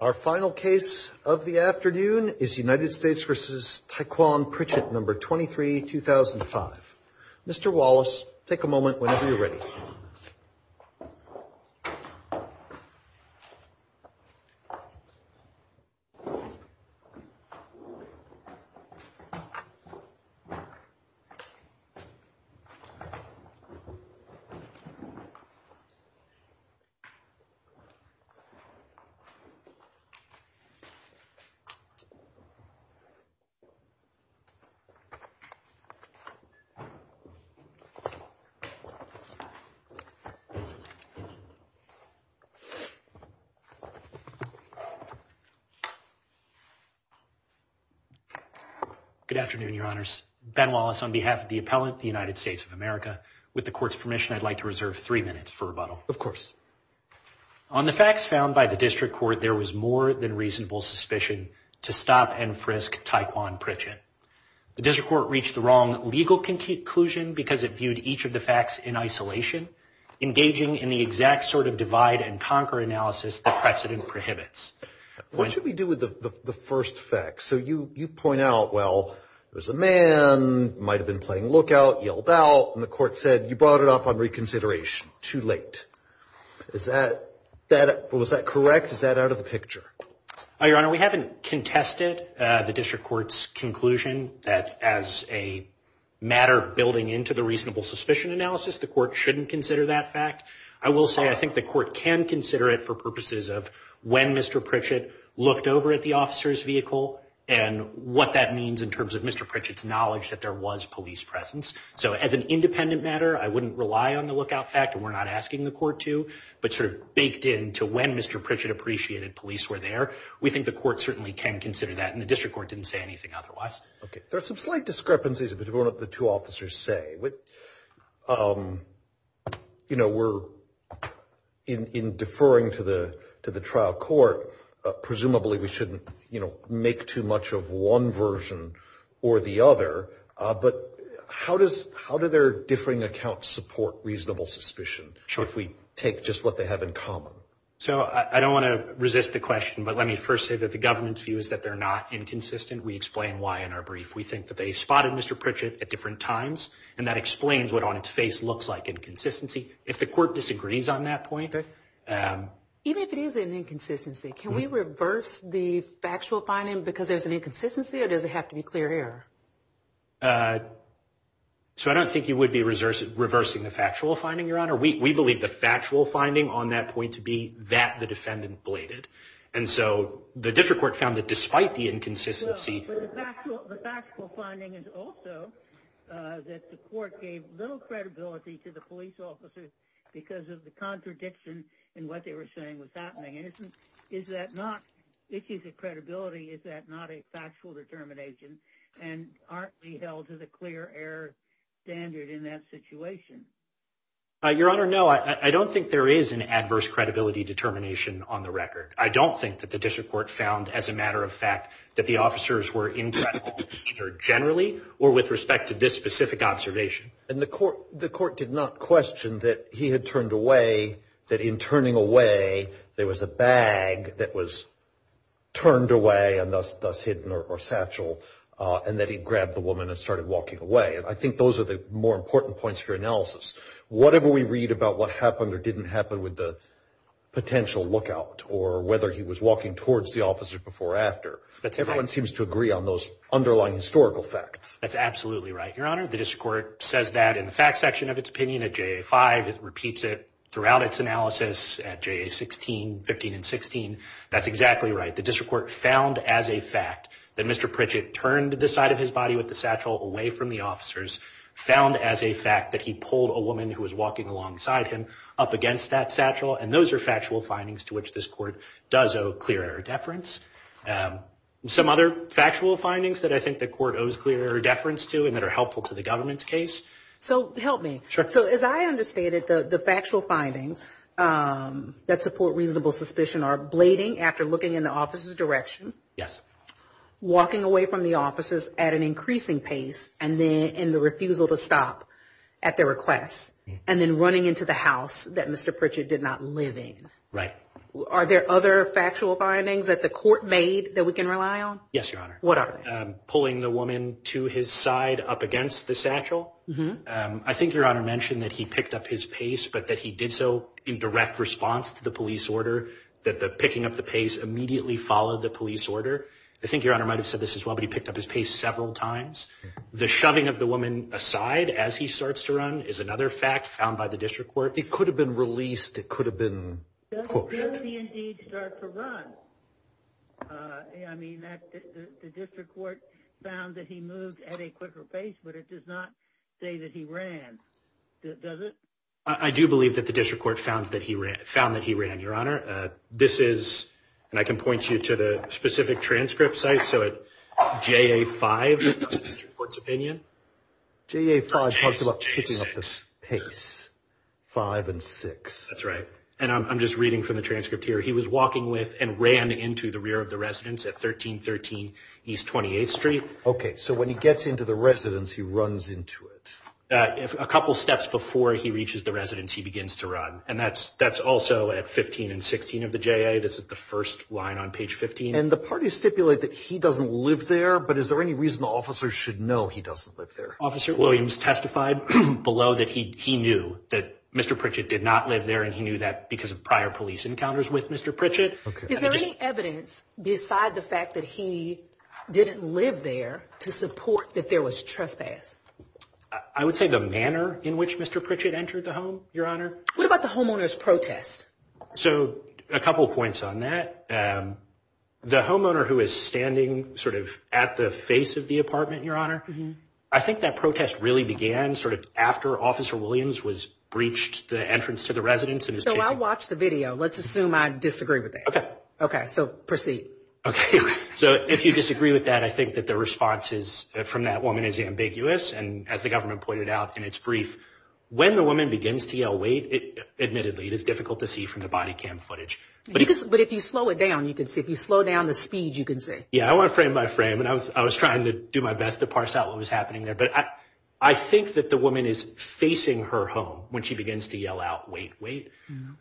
Our final case of the afternoon is United States v. Taikwan Pritchett, No. 23-2005. Mr. Wallace, take a moment whenever you're ready. Good afternoon, Your Honors. Ben Wallace on behalf of the appellant, the United States of America. With the court's permission, I'd like to reserve three minutes for rebuttal. Of course. On the facts found by the district court, there was more than reasonable suspicion to stop and frisk Taikwan Pritchett. The district court reached the wrong legal conclusion because it viewed each of the facts in isolation, engaging in the exact sort of divide-and-conquer analysis the precedent prohibits. What should we do with the first fact? So you point out, well, there's a man, might have been playing lookout, yelled out, and the court said, you brought it up on reconsideration, too late. Is that correct? Is that out of the picture? Your Honor, we haven't contested the district court's conclusion that as a matter of building into the reasonable suspicion analysis, the court shouldn't consider that fact. I will say I think the court can consider it for purposes of when Mr. Pritchett looked over at the officer's vehicle and what that means in terms of Mr. Pritchett's knowledge that there was police presence. So as an independent matter, I wouldn't rely on the lookout fact, and we're not asking the court to, but sort of baked in to when Mr. Pritchett appreciated police were there, we think the court certainly can consider that, and the district court didn't say anything otherwise. Okay. There are some slight discrepancies between what the two officers say. You know, we're, in deferring to the trial court, presumably we shouldn't, you know, make too much of one version or the other, but how does, how do their differing accounts support reasonable suspicion if we take just what they have in common? So I don't want to resist the question, but let me first say that the government's view is that they're not inconsistent. We explain why in our brief. We think that they spotted Mr. Pritchett at different times, and that explains what on its face looks like inconsistency. If the court disagrees on that point. Even if it is an inconsistency, can we reverse the factual finding because there's an inconsistency or does it have to be clear error? So I don't think you would be reversing the factual finding, Your Honor. We believe the factual finding on that point to be that the defendant bladed. And so the district court found that despite the inconsistency. The factual finding is also that the court gave little credibility to the police officers because of the contradiction in what they were saying was happening. And isn't, is that not, if he's a credibility, is that not a factual determination and aren't we held to the clear error standard in that situation? Your Honor, no, I don't think there is an adverse credibility determination on the record. I don't think that the district court found as a matter of fact that the officers were incredible generally or with respect to this specific observation. And the court did not question that he had turned away, that in turning away, there was a bag that was turned away and thus hidden or satchel, and that he grabbed the woman and started walking away. And I think those are the more important points for analysis. Whatever we read about what happened or didn't happen with the potential lookout or whether he was walking towards the officers before or after, everyone seems to agree on those underlying historical facts. That's absolutely right, Your Honor. The district court says that in the fact section of its opinion at JA-5. It repeats it throughout its analysis at JA-16, 15, and 16. That's exactly right. The district court found as a fact that Mr. Pritchett turned the side of his body with the satchel away from the officers, found as a fact that he pulled a woman who was walking alongside him up against that satchel, and those are factual findings to which this court does owe clear error deference. Some other factual findings that I think the court owes clear error deference to and that are helpful to the government's case. So help me. Sure. So as I understand it, the factual findings that support reasonable suspicion are blading after looking in the officer's direction. Yes. Walking away from the officers at an increasing pace and the refusal to stop at their request, and then running into the house that Mr. Pritchett did not live in. Right. Are there other factual findings that the court made that we can rely on? Yes, Your Honor. What are they? Pulling the woman to his side up against the satchel. I think Your Honor mentioned that he picked up his pace, but that he did so in direct response to the police order, that the picking up the pace immediately followed the police order. I think Your Honor might have said this as well, but he picked up his pace several times. The shoving of the woman aside as he starts to run is another fact found by the district court. It could have been released. It could have been pushed. Does he indeed start to run? I mean, the district court found that he moved at a quicker pace, but it does not say that he ran, does it? I do believe that the district court found that he ran, Your Honor. This is, and I can point you to the specific transcript site, so at JA5 in the district court's opinion. JA5 talks about picking up the pace, 5 and 6. That's right. And I'm just reading from the transcript here. He was walking with and ran into the rear of the residence at 1313 East 28th Street. Okay, so when he gets into the residence, he runs into it. A couple steps before he reaches the residence, he begins to run, and that's also at 15 and 16 of the JA. This is the first line on page 15. And the parties stipulate that he doesn't live there, but is there any reason the officers should know he doesn't live there? Officer Williams testified below that he knew that Mr. Pritchett did not live there and he knew that because of prior police encounters with Mr. Pritchett. Is there any evidence beside the fact that he didn't live there to support that there was trespass? I would say the manner in which Mr. Pritchett entered the home, Your Honor. What about the homeowner's protest? So a couple points on that. The homeowner who is standing sort of at the face of the apartment, Your Honor, I think that protest really began sort of after Officer Williams was breached the entrance to the residence. So I watched the video. Let's assume I disagree with that. Okay. Okay, so proceed. Okay. So if you disagree with that, I think that the response from that woman is ambiguous, and as the government pointed out in its brief, when the woman begins to yell, wait, admittedly it is difficult to see from the body cam footage. But if you slow it down, you can see. If you slow down the speed, you can see. Yeah, I went frame by frame, and I was trying to do my best to parse out what was happening there. But I think that the woman is facing her home when she begins to yell out, wait, wait,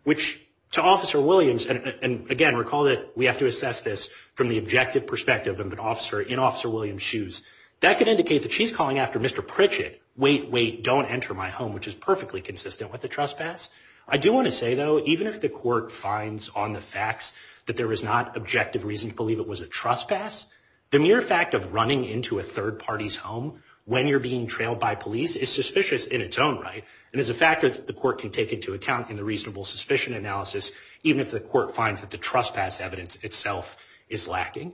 which to Officer Williams, and, again, recall that we have to assess this from the objective perspective of an officer in Officer Williams' shoes, that could indicate that she's calling after Mr. Pritchett, wait, wait, don't enter my home, which is perfectly consistent with the trespass. I do want to say, though, even if the court finds on the facts that there is not objective reason to believe it was a trespass, the mere fact of running into a third party's home when you're being trailed by police is suspicious in its own right, and is a factor that the court can take into account in the reasonable suspicion analysis, even if the court finds that the trespass evidence itself is lacking.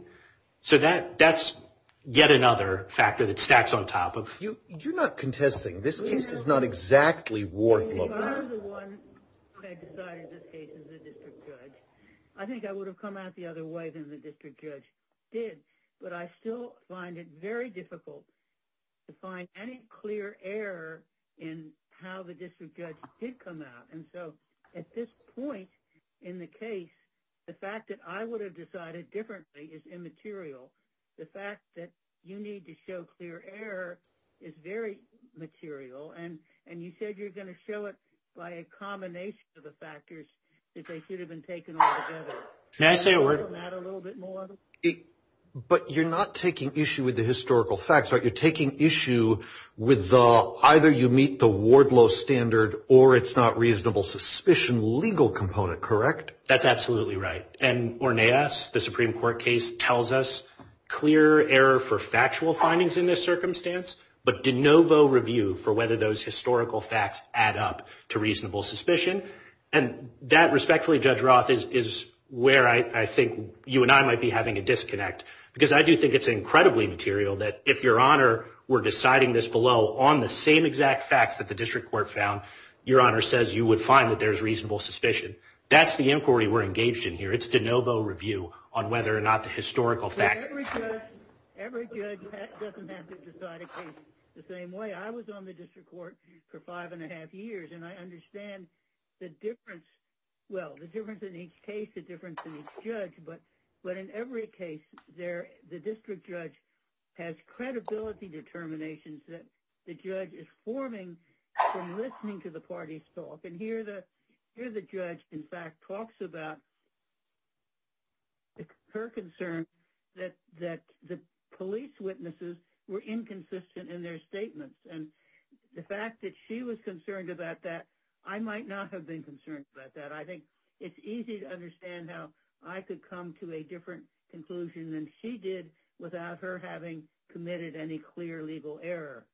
So that's yet another factor that stacks on top of. You're not contesting. This case is not exactly war-level. If I were the one who had decided this case as a district judge, I think I would have come out the other way than the district judge did, but I still find it very difficult to find any clear error in how the district judge did come out, and so at this point in the case, the fact that I would have decided differently is immaterial. The fact that you need to show clear error is very material, and you said you're going to show it by a combination of the factors that they should have been taken altogether. Can I say a word? But you're not taking issue with the historical facts, right? You're taking issue with either you meet the Wardlow standard or it's not reasonable suspicion legal component, correct? That's absolutely right, and Orneas, the Supreme Court case, tells us clear error for factual findings in this circumstance, but de novo review for whether those historical facts add up to reasonable suspicion, and that, respectfully, Judge Roth, is where I think you and I might be having a disconnect, because I do think it's incredibly material that if Your Honor were deciding this below on the same exact facts that the district court found, Your Honor says you would find that there's reasonable suspicion. That's the inquiry we're engaged in here. It's de novo review on whether or not the historical facts. Every judge doesn't have to decide a case the same way. I was on the district court for five and a half years, and I understand the difference. Well, the difference in each case, the difference in each judge, but in every case, the district judge has credibility determinations that the judge is forming from listening to the parties' talk, and here the judge, in fact, talks about her concern that the police witnesses were inconsistent in their statements, and the fact that she was concerned about that, I might not have been concerned about that. I think it's easy to understand how I could come to a different conclusion than she did without her having committed any clear legal error.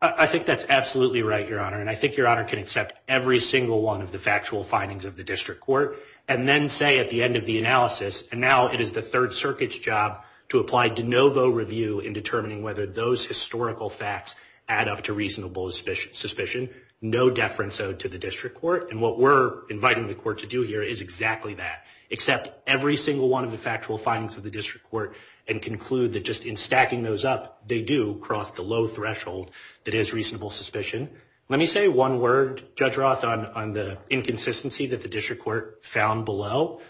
I think that's absolutely right, Your Honor, and I think Your Honor can accept every single one of the factual findings of the district court and then say at the end of the analysis, and now it is the Third Circuit's job to apply de novo review in determining whether those historical facts add up to reasonable suspicion. No deference owed to the district court, and what we're inviting the court to do here is exactly that. Accept every single one of the factual findings of the district court and conclude that just in stacking those up, they do cross the low threshold that is reasonable suspicion. Let me say one word, Judge Roth, on the inconsistency that the district court found below.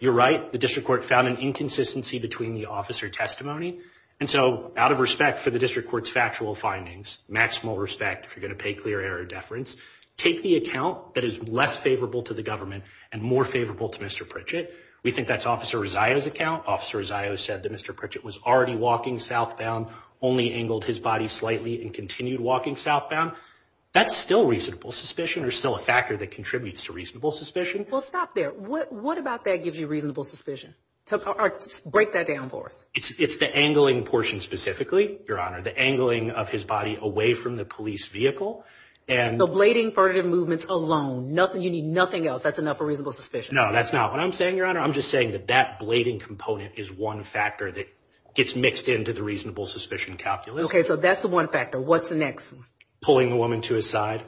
You're right, the district court found an inconsistency between the officer testimony, and so out of respect for the district court's factual findings, maximal respect if you're going to pay clear error deference, take the account that is less favorable to the government and more favorable to Mr. Pritchett. We think that's Officer Rosario's account. Officer Rosario said that Mr. Pritchett was already walking southbound, only angled his body slightly, and continued walking southbound. That's still reasonable suspicion. There's still a factor that contributes to reasonable suspicion. Well, stop there. What about that gives you reasonable suspicion? Break that down for us. It's the angling portion specifically, Your Honor, the angling of his body away from the police vehicle. So blading, furtive movements alone. You need nothing else. That's enough for reasonable suspicion. No, that's not what I'm saying, Your Honor. I'm just saying that that blading component is one factor that gets mixed into the reasonable suspicion calculus. Okay, so that's the one factor. What's the next? Pulling the woman to his side,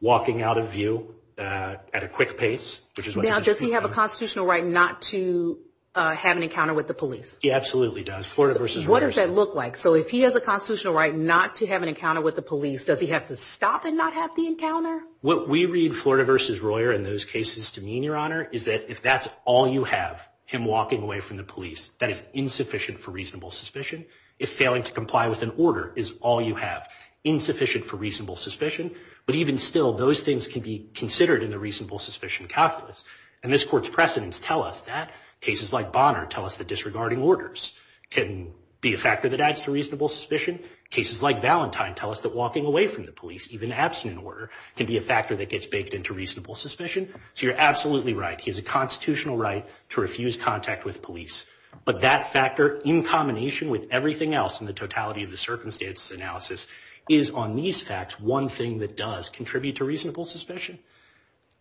walking out of view at a quick pace. Now, does he have a constitutional right not to have an encounter with the police? He absolutely does. What does that look like? So if he has a constitutional right not to have an encounter with the police, does he have to stop and not have the encounter? What we read, Florida v. Royer, in those cases to mean, Your Honor, is that if that's all you have, him walking away from the police, that is insufficient for reasonable suspicion. If failing to comply with an order is all you have, insufficient for reasonable suspicion. But even still, those things can be considered in the reasonable suspicion calculus. And this Court's precedents tell us that. Cases like Bonner tell us that disregarding orders can be a factor that adds to reasonable suspicion. Cases like Valentine tell us that walking away from the police, even absent an order, can be a factor that gets baked into reasonable suspicion. So you're absolutely right. He has a constitutional right to refuse contact with police. But that factor, in combination with everything else in the totality of the circumstances analysis, is on these facts one thing that does contribute to reasonable suspicion.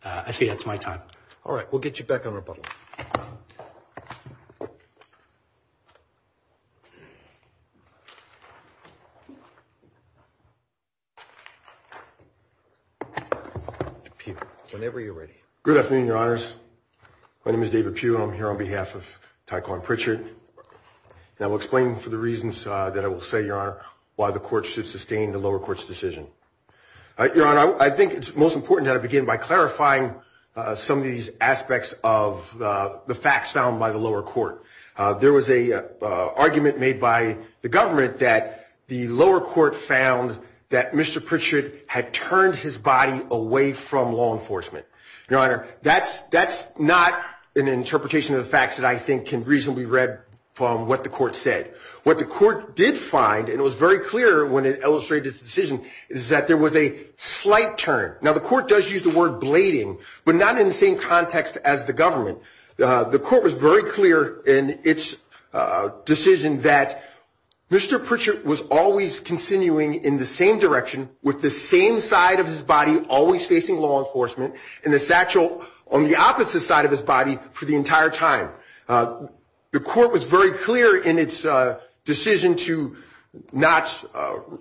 I say that's my time. All right, we'll get you back on rebuttal. Whenever you're ready. Good afternoon, Your Honors. My name is David Pugh, and I'm here on behalf of Tyco and Pritchard. And I will explain for the reasons that I will say, Your Honor, why the Court should sustain the lower court's decision. Your Honor, I think it's most important that I begin by clarifying some of these aspects of the facts found by the lower court. There was an argument made by the government that the lower court found that Mr. Pritchard had turned his body away from law enforcement. Your Honor, that's not an interpretation of the facts that I think can reasonably read from what the court said. What the court did find, and it was very clear when it illustrated its decision, is that there was a slight turn. Now, the court does use the word blading, but not in the same context as the government. The court was very clear in its decision that Mr. Pritchard was always continuing in the same direction, with the same side of his body always facing law enforcement, and the satchel on the opposite side of his body for the entire time. The court was very clear in its decision to not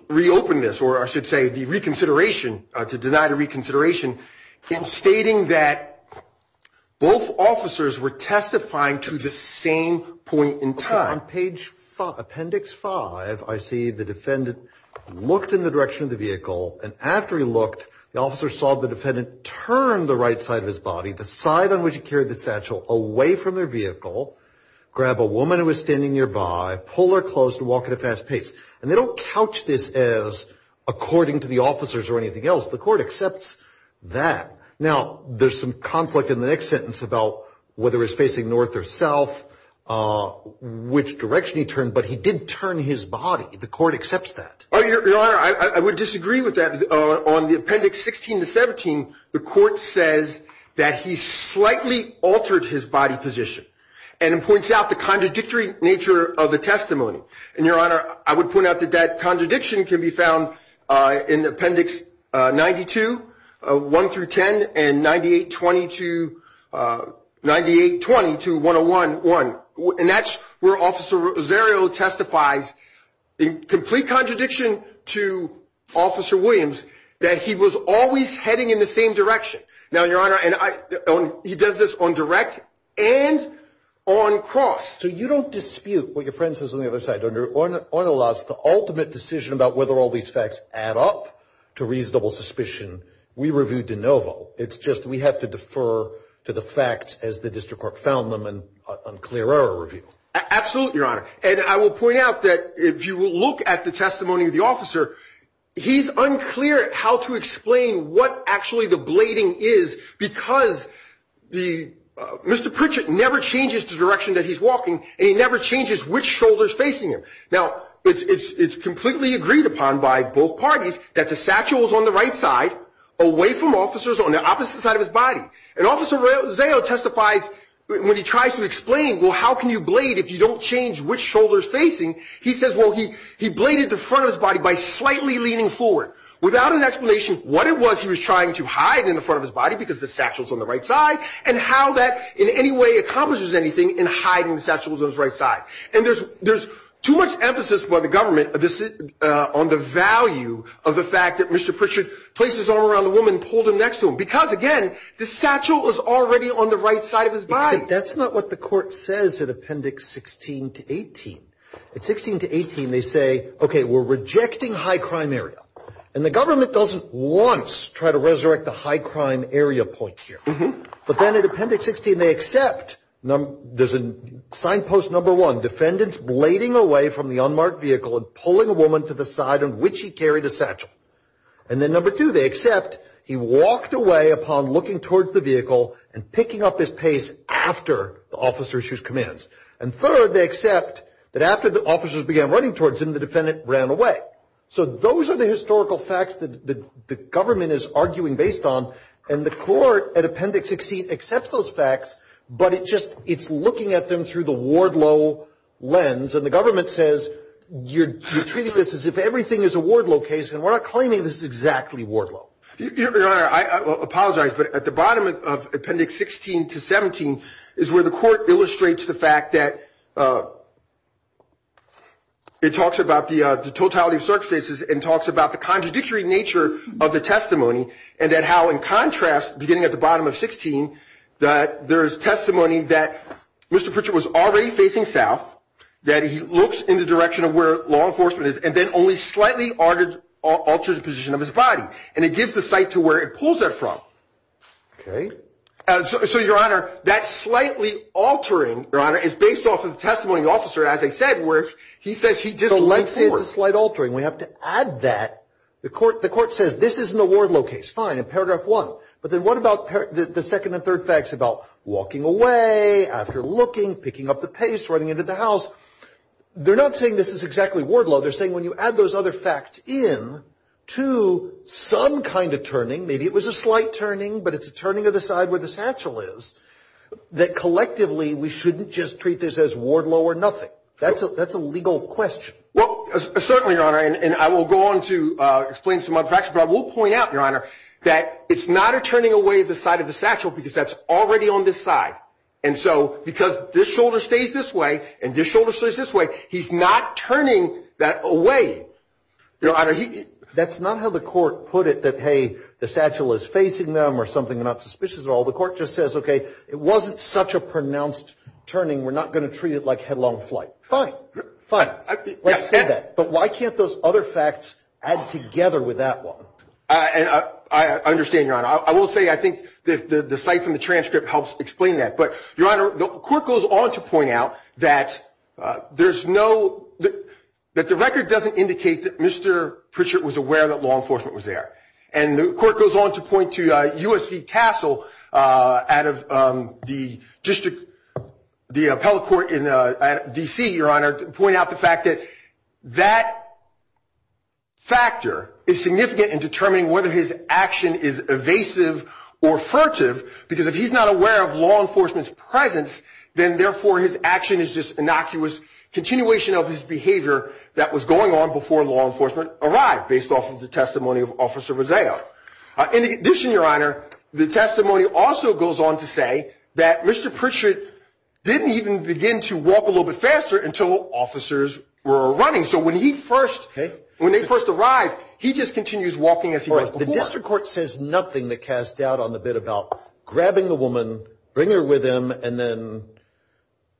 reopen this, or I should say the reconsideration, to deny the reconsideration, in stating that both officers were testifying to the same point in time. On page five, appendix five, I see the defendant looked in the direction of the vehicle, and after he looked, the officer saw the defendant turn the right side of his body, the side on which he carried the satchel, away from their vehicle, grab a woman who was standing nearby, pull her clothes, and walk at a fast pace. And they don't couch this as according to the officers or anything else. The court accepts that. Now, there's some conflict in the next sentence about whether he's facing north or south, which direction he turned, but he did turn his body. The court accepts that. Your Honor, I would disagree with that. On the appendix 16 to 17, the court says that he slightly altered his body position, and it points out the contradictory nature of the testimony. And, Your Honor, I would point out that that contradiction can be found in appendix 92, 1 through 10, and 9820 to 101.1. And that's where Officer Rosario testifies, in complete contradiction to Officer Williams, that he was always heading in the same direction. Now, Your Honor, he does this on direct and on cross. So you don't dispute what your friend says on the other side, don't you? On the last, the ultimate decision about whether all these facts add up to reasonable suspicion, we review de novo. It's just we have to defer to the facts as the district court found them in unclear error review. Absolutely, Your Honor. And I will point out that if you look at the testimony of the officer, he's unclear how to explain what actually the blading is because Mr. Pritchett never changes the direction that he's walking, and he never changes which shoulder is facing him. Now, it's completely agreed upon by both parties that the satchel is on the right side, away from officers on the opposite side of his body. And Officer Rosario testifies when he tries to explain, well, how can you blade if you don't change which shoulder is facing? He says, well, he bladed the front of his body by slightly leaning forward. Without an explanation what it was he was trying to hide in the front of his body because the satchel is on the right side and how that in any way accomplishes anything in hiding the satchel on his right side. And there's too much emphasis by the government on the value of the fact that Mr. Pritchett placed his arm around the woman and pulled him next to him because, again, the satchel was already on the right side of his body. That's not what the court says in Appendix 16 to 18. In 16 to 18, they say, okay, we're rejecting high crime area. And the government doesn't once try to resurrect the high crime area point here. But then in Appendix 16, they accept there's a signpost number one, defendants blading away from the unmarked vehicle and pulling a woman to the side on which he carried a satchel. And then number two, they accept he walked away upon looking towards the vehicle and picking up his pace after the officers issued commands. And third, they accept that after the officers began running towards him, the defendant ran away. So those are the historical facts that the government is arguing based on. And the court at Appendix 16 accepts those facts, but it's looking at them through the Wardlow lens. And the government says, you're treating this as if everything is a Wardlow case, and we're not claiming this is exactly Wardlow. Your Honor, I apologize, but at the bottom of Appendix 16 to 17 is where the court illustrates the fact that it talks about the totality of circumstances and talks about the contradictory nature of the testimony and that how, in contrast, beginning at the bottom of 16, that there is testimony that Mr. Pritchett was already facing south, that he looks in the direction of where law enforcement is, and then only slightly altered the position of his body. And it gives the site to where it pulls that from. Okay. So, Your Honor, that slightly altering, Your Honor, is based off of the testimony of the officer, as I said, where he says he just looked forward. That's a slight altering. We have to add that. The court says, this isn't a Wardlow case. Fine, in Paragraph 1. But then what about the second and third facts about walking away, after looking, picking up the pace, running into the house? They're not saying this is exactly Wardlow. They're saying when you add those other facts in to some kind of turning, maybe it was a slight turning, but it's a turning of the side where the satchel is, that collectively we shouldn't just treat this as Wardlow or nothing. That's a legal question. Well, certainly, Your Honor, and I will go on to explain some other facts. But I will point out, Your Honor, that it's not a turning away of the side of the satchel because that's already on this side. And so because this shoulder stays this way and this shoulder stays this way, he's not turning that away. Your Honor, he — That's not how the court put it, that, hey, the satchel is facing them or something, not suspicious at all. The court just says, okay, it wasn't such a pronounced turning. We're not going to treat it like headlong flight. Fine. Fine. Let's say that. But why can't those other facts add together with that one? I understand, Your Honor. I will say I think the site from the transcript helps explain that. But, Your Honor, the court goes on to point out that there's no — that the record doesn't indicate that Mr. Pritchett was aware that law enforcement was there. And the court goes on to point to U.S. v. Castle out of the district — the appellate court in D.C., Your Honor, to point out the fact that that factor is significant in determining whether his action is evasive or furtive because if he's not aware of law enforcement's presence, then, therefore, his action is just innocuous continuation of his behavior that was going on before law enforcement arrived based off of the testimony of Officer Roseo. In addition, Your Honor, the testimony also goes on to say that Mr. Pritchett didn't even begin to walk a little bit faster until officers were running. So when he first — when they first arrived, he just continues walking as he was before. The district court says nothing that casts doubt on the bit about grabbing the woman, bringing her with him, and then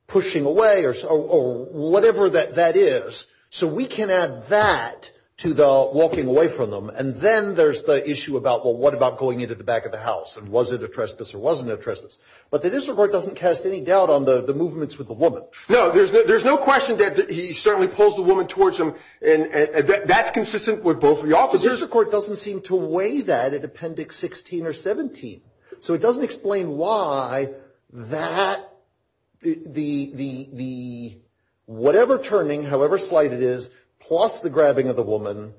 pushing away or whatever that is. So we can add that to the walking away from them. And then there's the issue about, well, what about going into the back of the house? And was it a trespass or wasn't it a trespass? But the district court doesn't cast any doubt on the movements with the woman. No, there's no question that he certainly pulls the woman towards him. And that's consistent with both of the officers. But the district court doesn't seem to weigh that at Appendix 16 or 17. So it doesn't explain why that — the — whatever turning, however slight it is, plus the grabbing of the woman.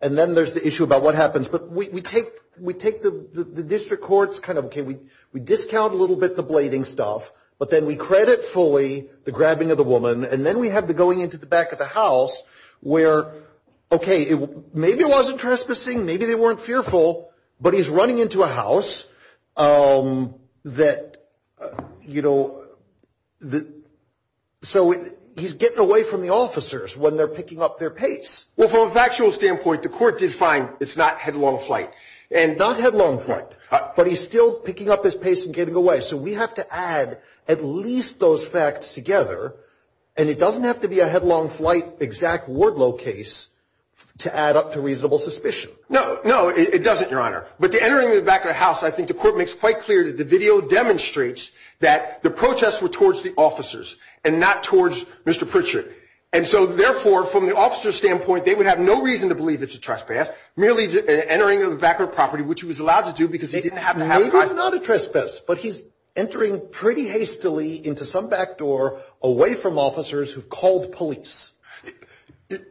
And then there's the issue about what happens. But we take — we take the district court's kind of — okay, we discount a little bit the blading stuff. But then we credit fully the grabbing of the woman. And then we have the going into the back of the house where, okay, maybe it wasn't trespassing, maybe they weren't fearful. But he's running into a house that, you know — so he's getting away from the officers when they're picking up their pace. Well, from a factual standpoint, the court did find it's not headlong flight. And not headlong flight. But he's still picking up his pace and getting away. So we have to add at least those facts together. And it doesn't have to be a headlong flight exact Wardlow case to add up to reasonable suspicion. No, no, it doesn't, Your Honor. But the entering of the back of the house, I think the court makes quite clear that the video demonstrates that the protests were towards the officers and not towards Mr. Pritchard. And so, therefore, from the officer's standpoint, they would have no reason to believe it's a trespass. Merely an entering of the back of the property, which he was allowed to do because he didn't have to have — Yes, but he's entering pretty hastily into some back door away from officers who've called police.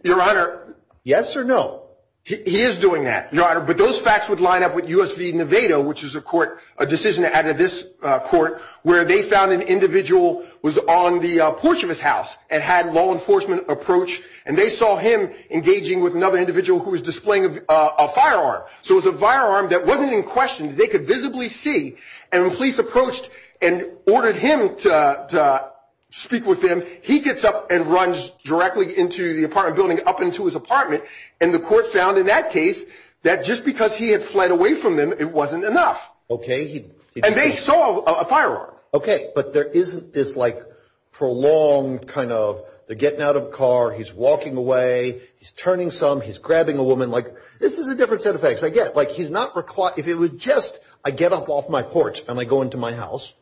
Your Honor — Yes or no? He is doing that, Your Honor. But those facts would line up with U.S. v. Nevado, which is a court — a decision added to this court where they found an individual was on the porch of his house and had law enforcement approach. And they saw him engaging with another individual who was displaying a firearm. So it was a firearm that wasn't in question. They could visibly see. And when police approached and ordered him to speak with them, he gets up and runs directly into the apartment building, up into his apartment. And the court found in that case that just because he had fled away from them, it wasn't enough. Okay. And they saw a firearm. Okay. But there isn't this, like, prolonged kind of they're getting out of a car, he's walking away, he's turning some, he's grabbing a woman. Like, this is a different set of facts I get. Like, he's not — if it was just, I get up off my porch and I go into my house,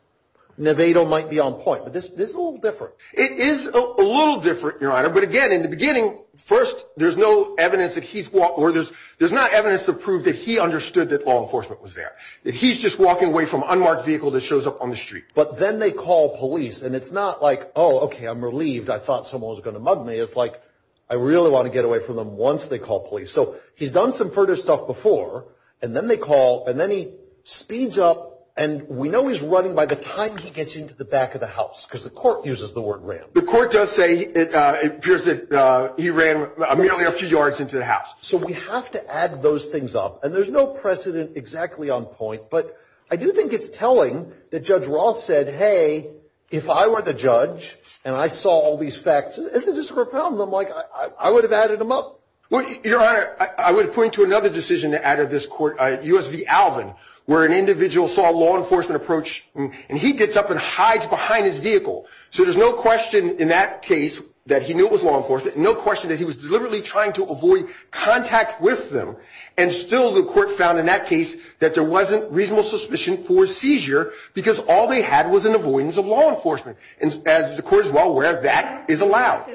Nevado might be on point. But this is a little different. It is a little different, Your Honor. But again, in the beginning, first, there's no evidence that he's — or there's not evidence to prove that he understood that law enforcement was there. That he's just walking away from an unmarked vehicle that shows up on the street. But then they call police. And it's not like, oh, okay, I'm relieved. I thought someone was going to mug me. It's like, I really want to get away from them once they call police. So he's done some furtive stuff before. And then they call. And then he speeds up. And we know he's running by the time he gets into the back of the house. Because the court uses the word ran. The court does say it appears that he ran merely a few yards into the house. So we have to add those things up. And there's no precedent exactly on point. But I do think it's telling that Judge Roth said, hey, if I were the judge and I saw all these facts, isn't this a profound? I'm like, I would have added them up. Your Honor, I would point to another decision out of this court, U.S. v. Alvin, where an individual saw law enforcement approach. And he gets up and hides behind his vehicle. So there's no question in that case that he knew it was law enforcement. No question that he was deliberately trying to avoid contact with them. And still the court found in that case that there wasn't reasonable suspicion for seizure. Because all they had was an avoidance of law enforcement. As the court is well aware, that is allowed.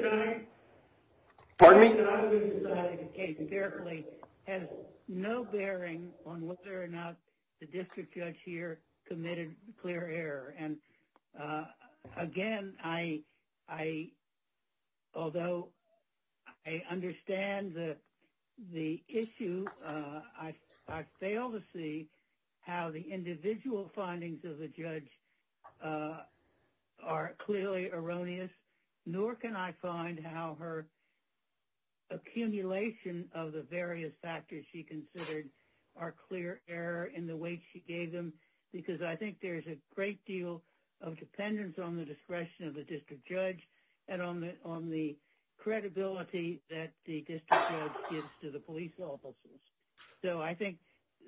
Pardon me? The case has no bearing on whether or not the district judge here committed clear error. And again, although I understand the issue, I fail to see how the individual findings of the judge are clearly erroneous. Nor can I find how her accumulation of the various factors she considered are clear error in the way she gave them. Because I think there's a great deal of dependence on the discretion of the district judge and on the credibility that the district judge gives to the police officers. So I think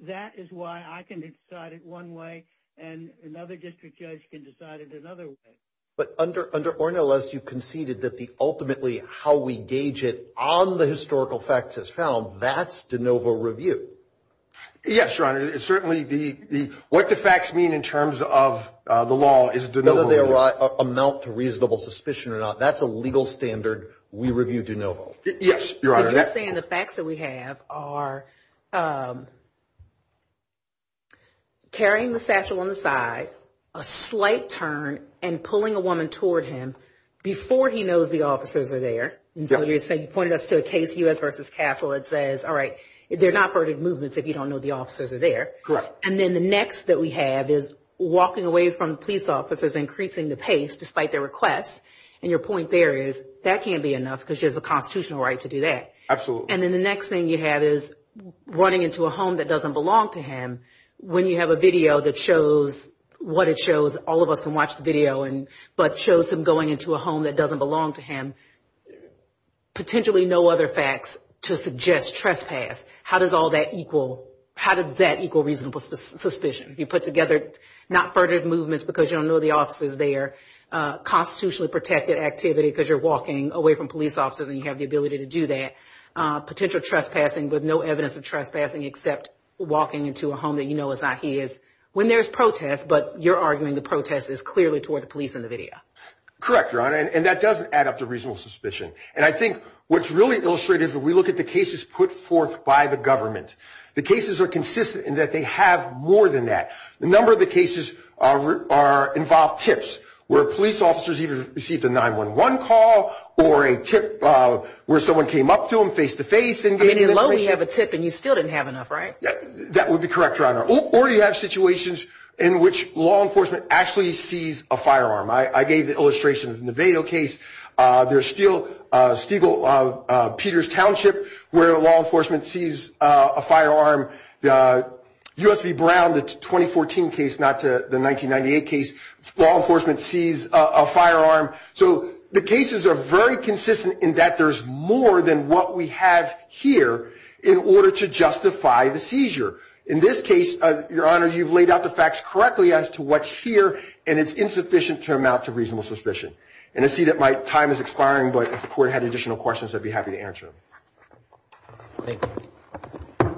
that is why I can decide it one way and another district judge can decide it another way. But under Ornelas, you conceded that ultimately how we gauge it on the historical facts as found, that's de novo review. Yes, Your Honor. Certainly what the facts mean in terms of the law is de novo review. Whether they amount to reasonable suspicion or not, that's a legal standard. Yes, Your Honor. So you're saying the facts that we have are carrying the satchel on the side, a slight turn, and pulling a woman toward him before he knows the officers are there. And so you're saying, you pointed us to a case, U.S. v. Castle, that says, all right, they're not part of movements if you don't know the officers are there. Correct. And then the next that we have is walking away from the police officers, increasing the pace despite their requests. And your point there is that can't be enough because there's a constitutional right to do that. Absolutely. And then the next thing you have is running into a home that doesn't belong to him. When you have a video that shows what it shows, all of us can watch the video, but shows him going into a home that doesn't belong to him, potentially no other facts to suggest trespass. How does that equal reasonable suspicion? You put together not further movements because you don't know the officers there, constitutionally protected activity because you're walking away from police officers and you have the ability to do that, potential trespassing with no evidence of trespassing except walking into a home that you know is not his. When there's protest, but you're arguing the protest is clearly toward the police in the video. Correct, Your Honor. And that does add up to reasonable suspicion. And I think what's really illustrative when we look at the cases put forth by the government, the cases are consistent in that they have more than that. The number of the cases are involved tips where police officers even received a 911 call or a tip where someone came up to him face-to-face. I mean, even though we have a tip and you still didn't have enough, right? That would be correct, Your Honor. Or you have situations in which law enforcement actually sees a firearm. I gave the illustration in the Vado case. There's still Stegall, Peter's Township, where law enforcement sees a firearm. The USB Brown, the 2014 case, not the 1998 case, law enforcement sees a firearm. So the cases are very consistent in that there's more than what we have here in order to justify the seizure. In this case, Your Honor, you've laid out the facts correctly as to what's here, and it's insufficient to amount to reasonable suspicion. And I see that my time is expiring, but if the Court had additional questions, I'd be happy to answer them. Thank you.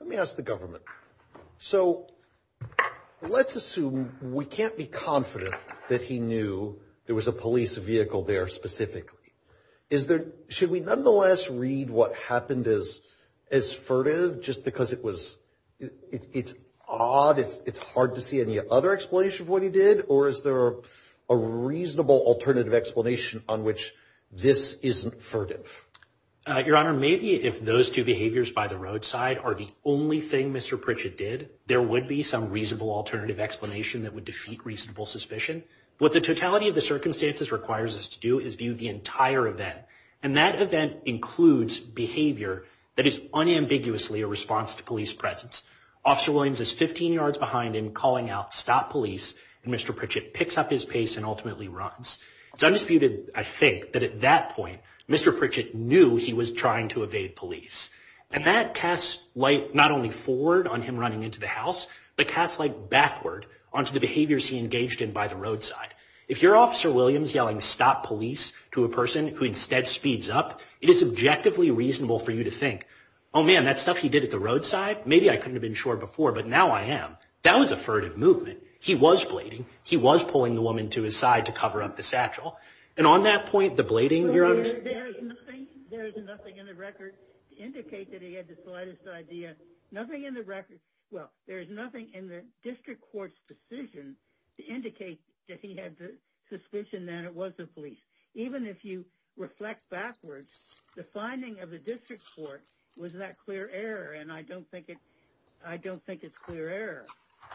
Let me ask the government. So let's assume we can't be confident that he knew there was a police vehicle there specifically. Should we nonetheless read what happened as furtive just because it's odd, it's hard to see any other explanation of what he did? Or is there a reasonable alternative explanation on which this isn't furtive? Your Honor, maybe if those two behaviors by the roadside are the only thing Mr. Pritchett did, there would be some reasonable alternative explanation that would defeat reasonable suspicion. What the totality of the circumstances requires us to do is view the entire event. And that event includes behavior that is unambiguously a response to police presence. Officer Williams is 15 yards behind him calling out, stop police, and Mr. Pritchett picks up his pace and ultimately runs. It's undisputed, I think, that at that point, Mr. Pritchett knew he was trying to evade police. And that casts light not only forward on him running into the house, but casts light backward onto the behaviors he engaged in by the roadside. If you're Officer Williams yelling stop police to a person who instead speeds up, it is objectively reasonable for you to think, oh man, that stuff he did at the roadside, maybe I couldn't have been sure before, but now I am. That was a furtive movement. He was blading. He was pulling the woman to his side to cover up the satchel. And on that point, the blading, Your Honor. There is nothing in the record to indicate that he had the slightest idea. Nothing in the record, well, there is nothing in the district court's decision to indicate that he had the suspicion that it was the police. Even if you reflect backwards, the finding of the district court was that clear error. And I don't think it's clear error.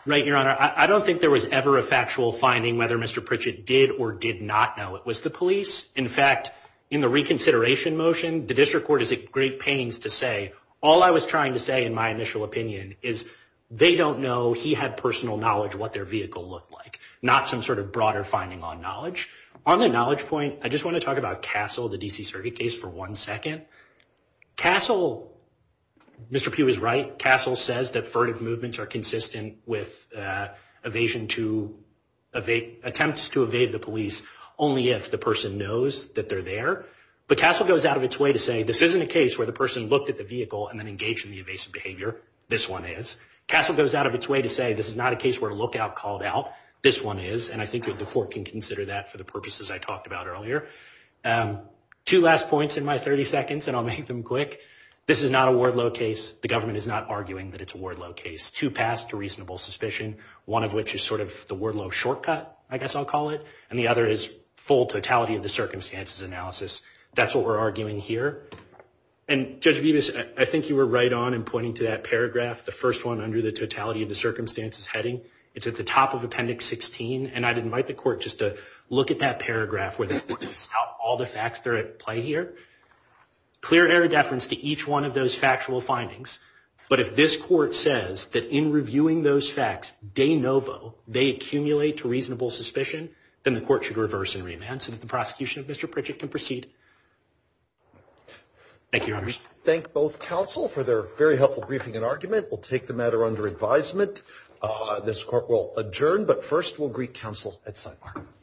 Right, Your Honor. I don't think there was ever a factual finding whether Mr. Pritchett did or did not know it was the police. In fact, in the reconsideration motion, the district court is at great pains to say, all I was trying to say in my initial opinion is they don't know he had personal knowledge what their vehicle looked like. Not some sort of broader finding on knowledge. On the knowledge point, I just want to talk about Castle, the D.C. Circuit case, for one second. Castle, Mr. Pugh is right, Castle says that furtive movements are consistent with evasion to, attempts to evade the police only if the person knows that they're there. But Castle goes out of its way to say this isn't a case where the person looked at the vehicle and then engaged in the evasive behavior. This one is. Castle goes out of its way to say this is not a case where a lookout called out. This one is. And I think the court can consider that for the purposes I talked about earlier. Two last points in my 30 seconds, and I'll make them quick. This is not a Wardlow case. The government is not arguing that it's a Wardlow case. It's two paths to reasonable suspicion. One of which is sort of the Wardlow shortcut, I guess I'll call it. And the other is full totality of the circumstances analysis. That's what we're arguing here. And Judge Bevis, I think you were right on in pointing to that paragraph, the first one under the totality of the circumstances heading. It's at the top of Appendix 16. And I'd invite the court just to look at that paragraph where the court lists out all the facts that are at play here. Clear error deference to each one of those factual findings. But if this court says that in reviewing those facts, de novo, they accumulate to reasonable suspicion, then the court should reverse and remand so that the prosecution of Mr. Pritchett can proceed. Thank you, Your Honors. Thank both counsel for their very helpful briefing and argument. We'll take the matter under advisement. This court will adjourn, but first we'll greet counsel at sidebar.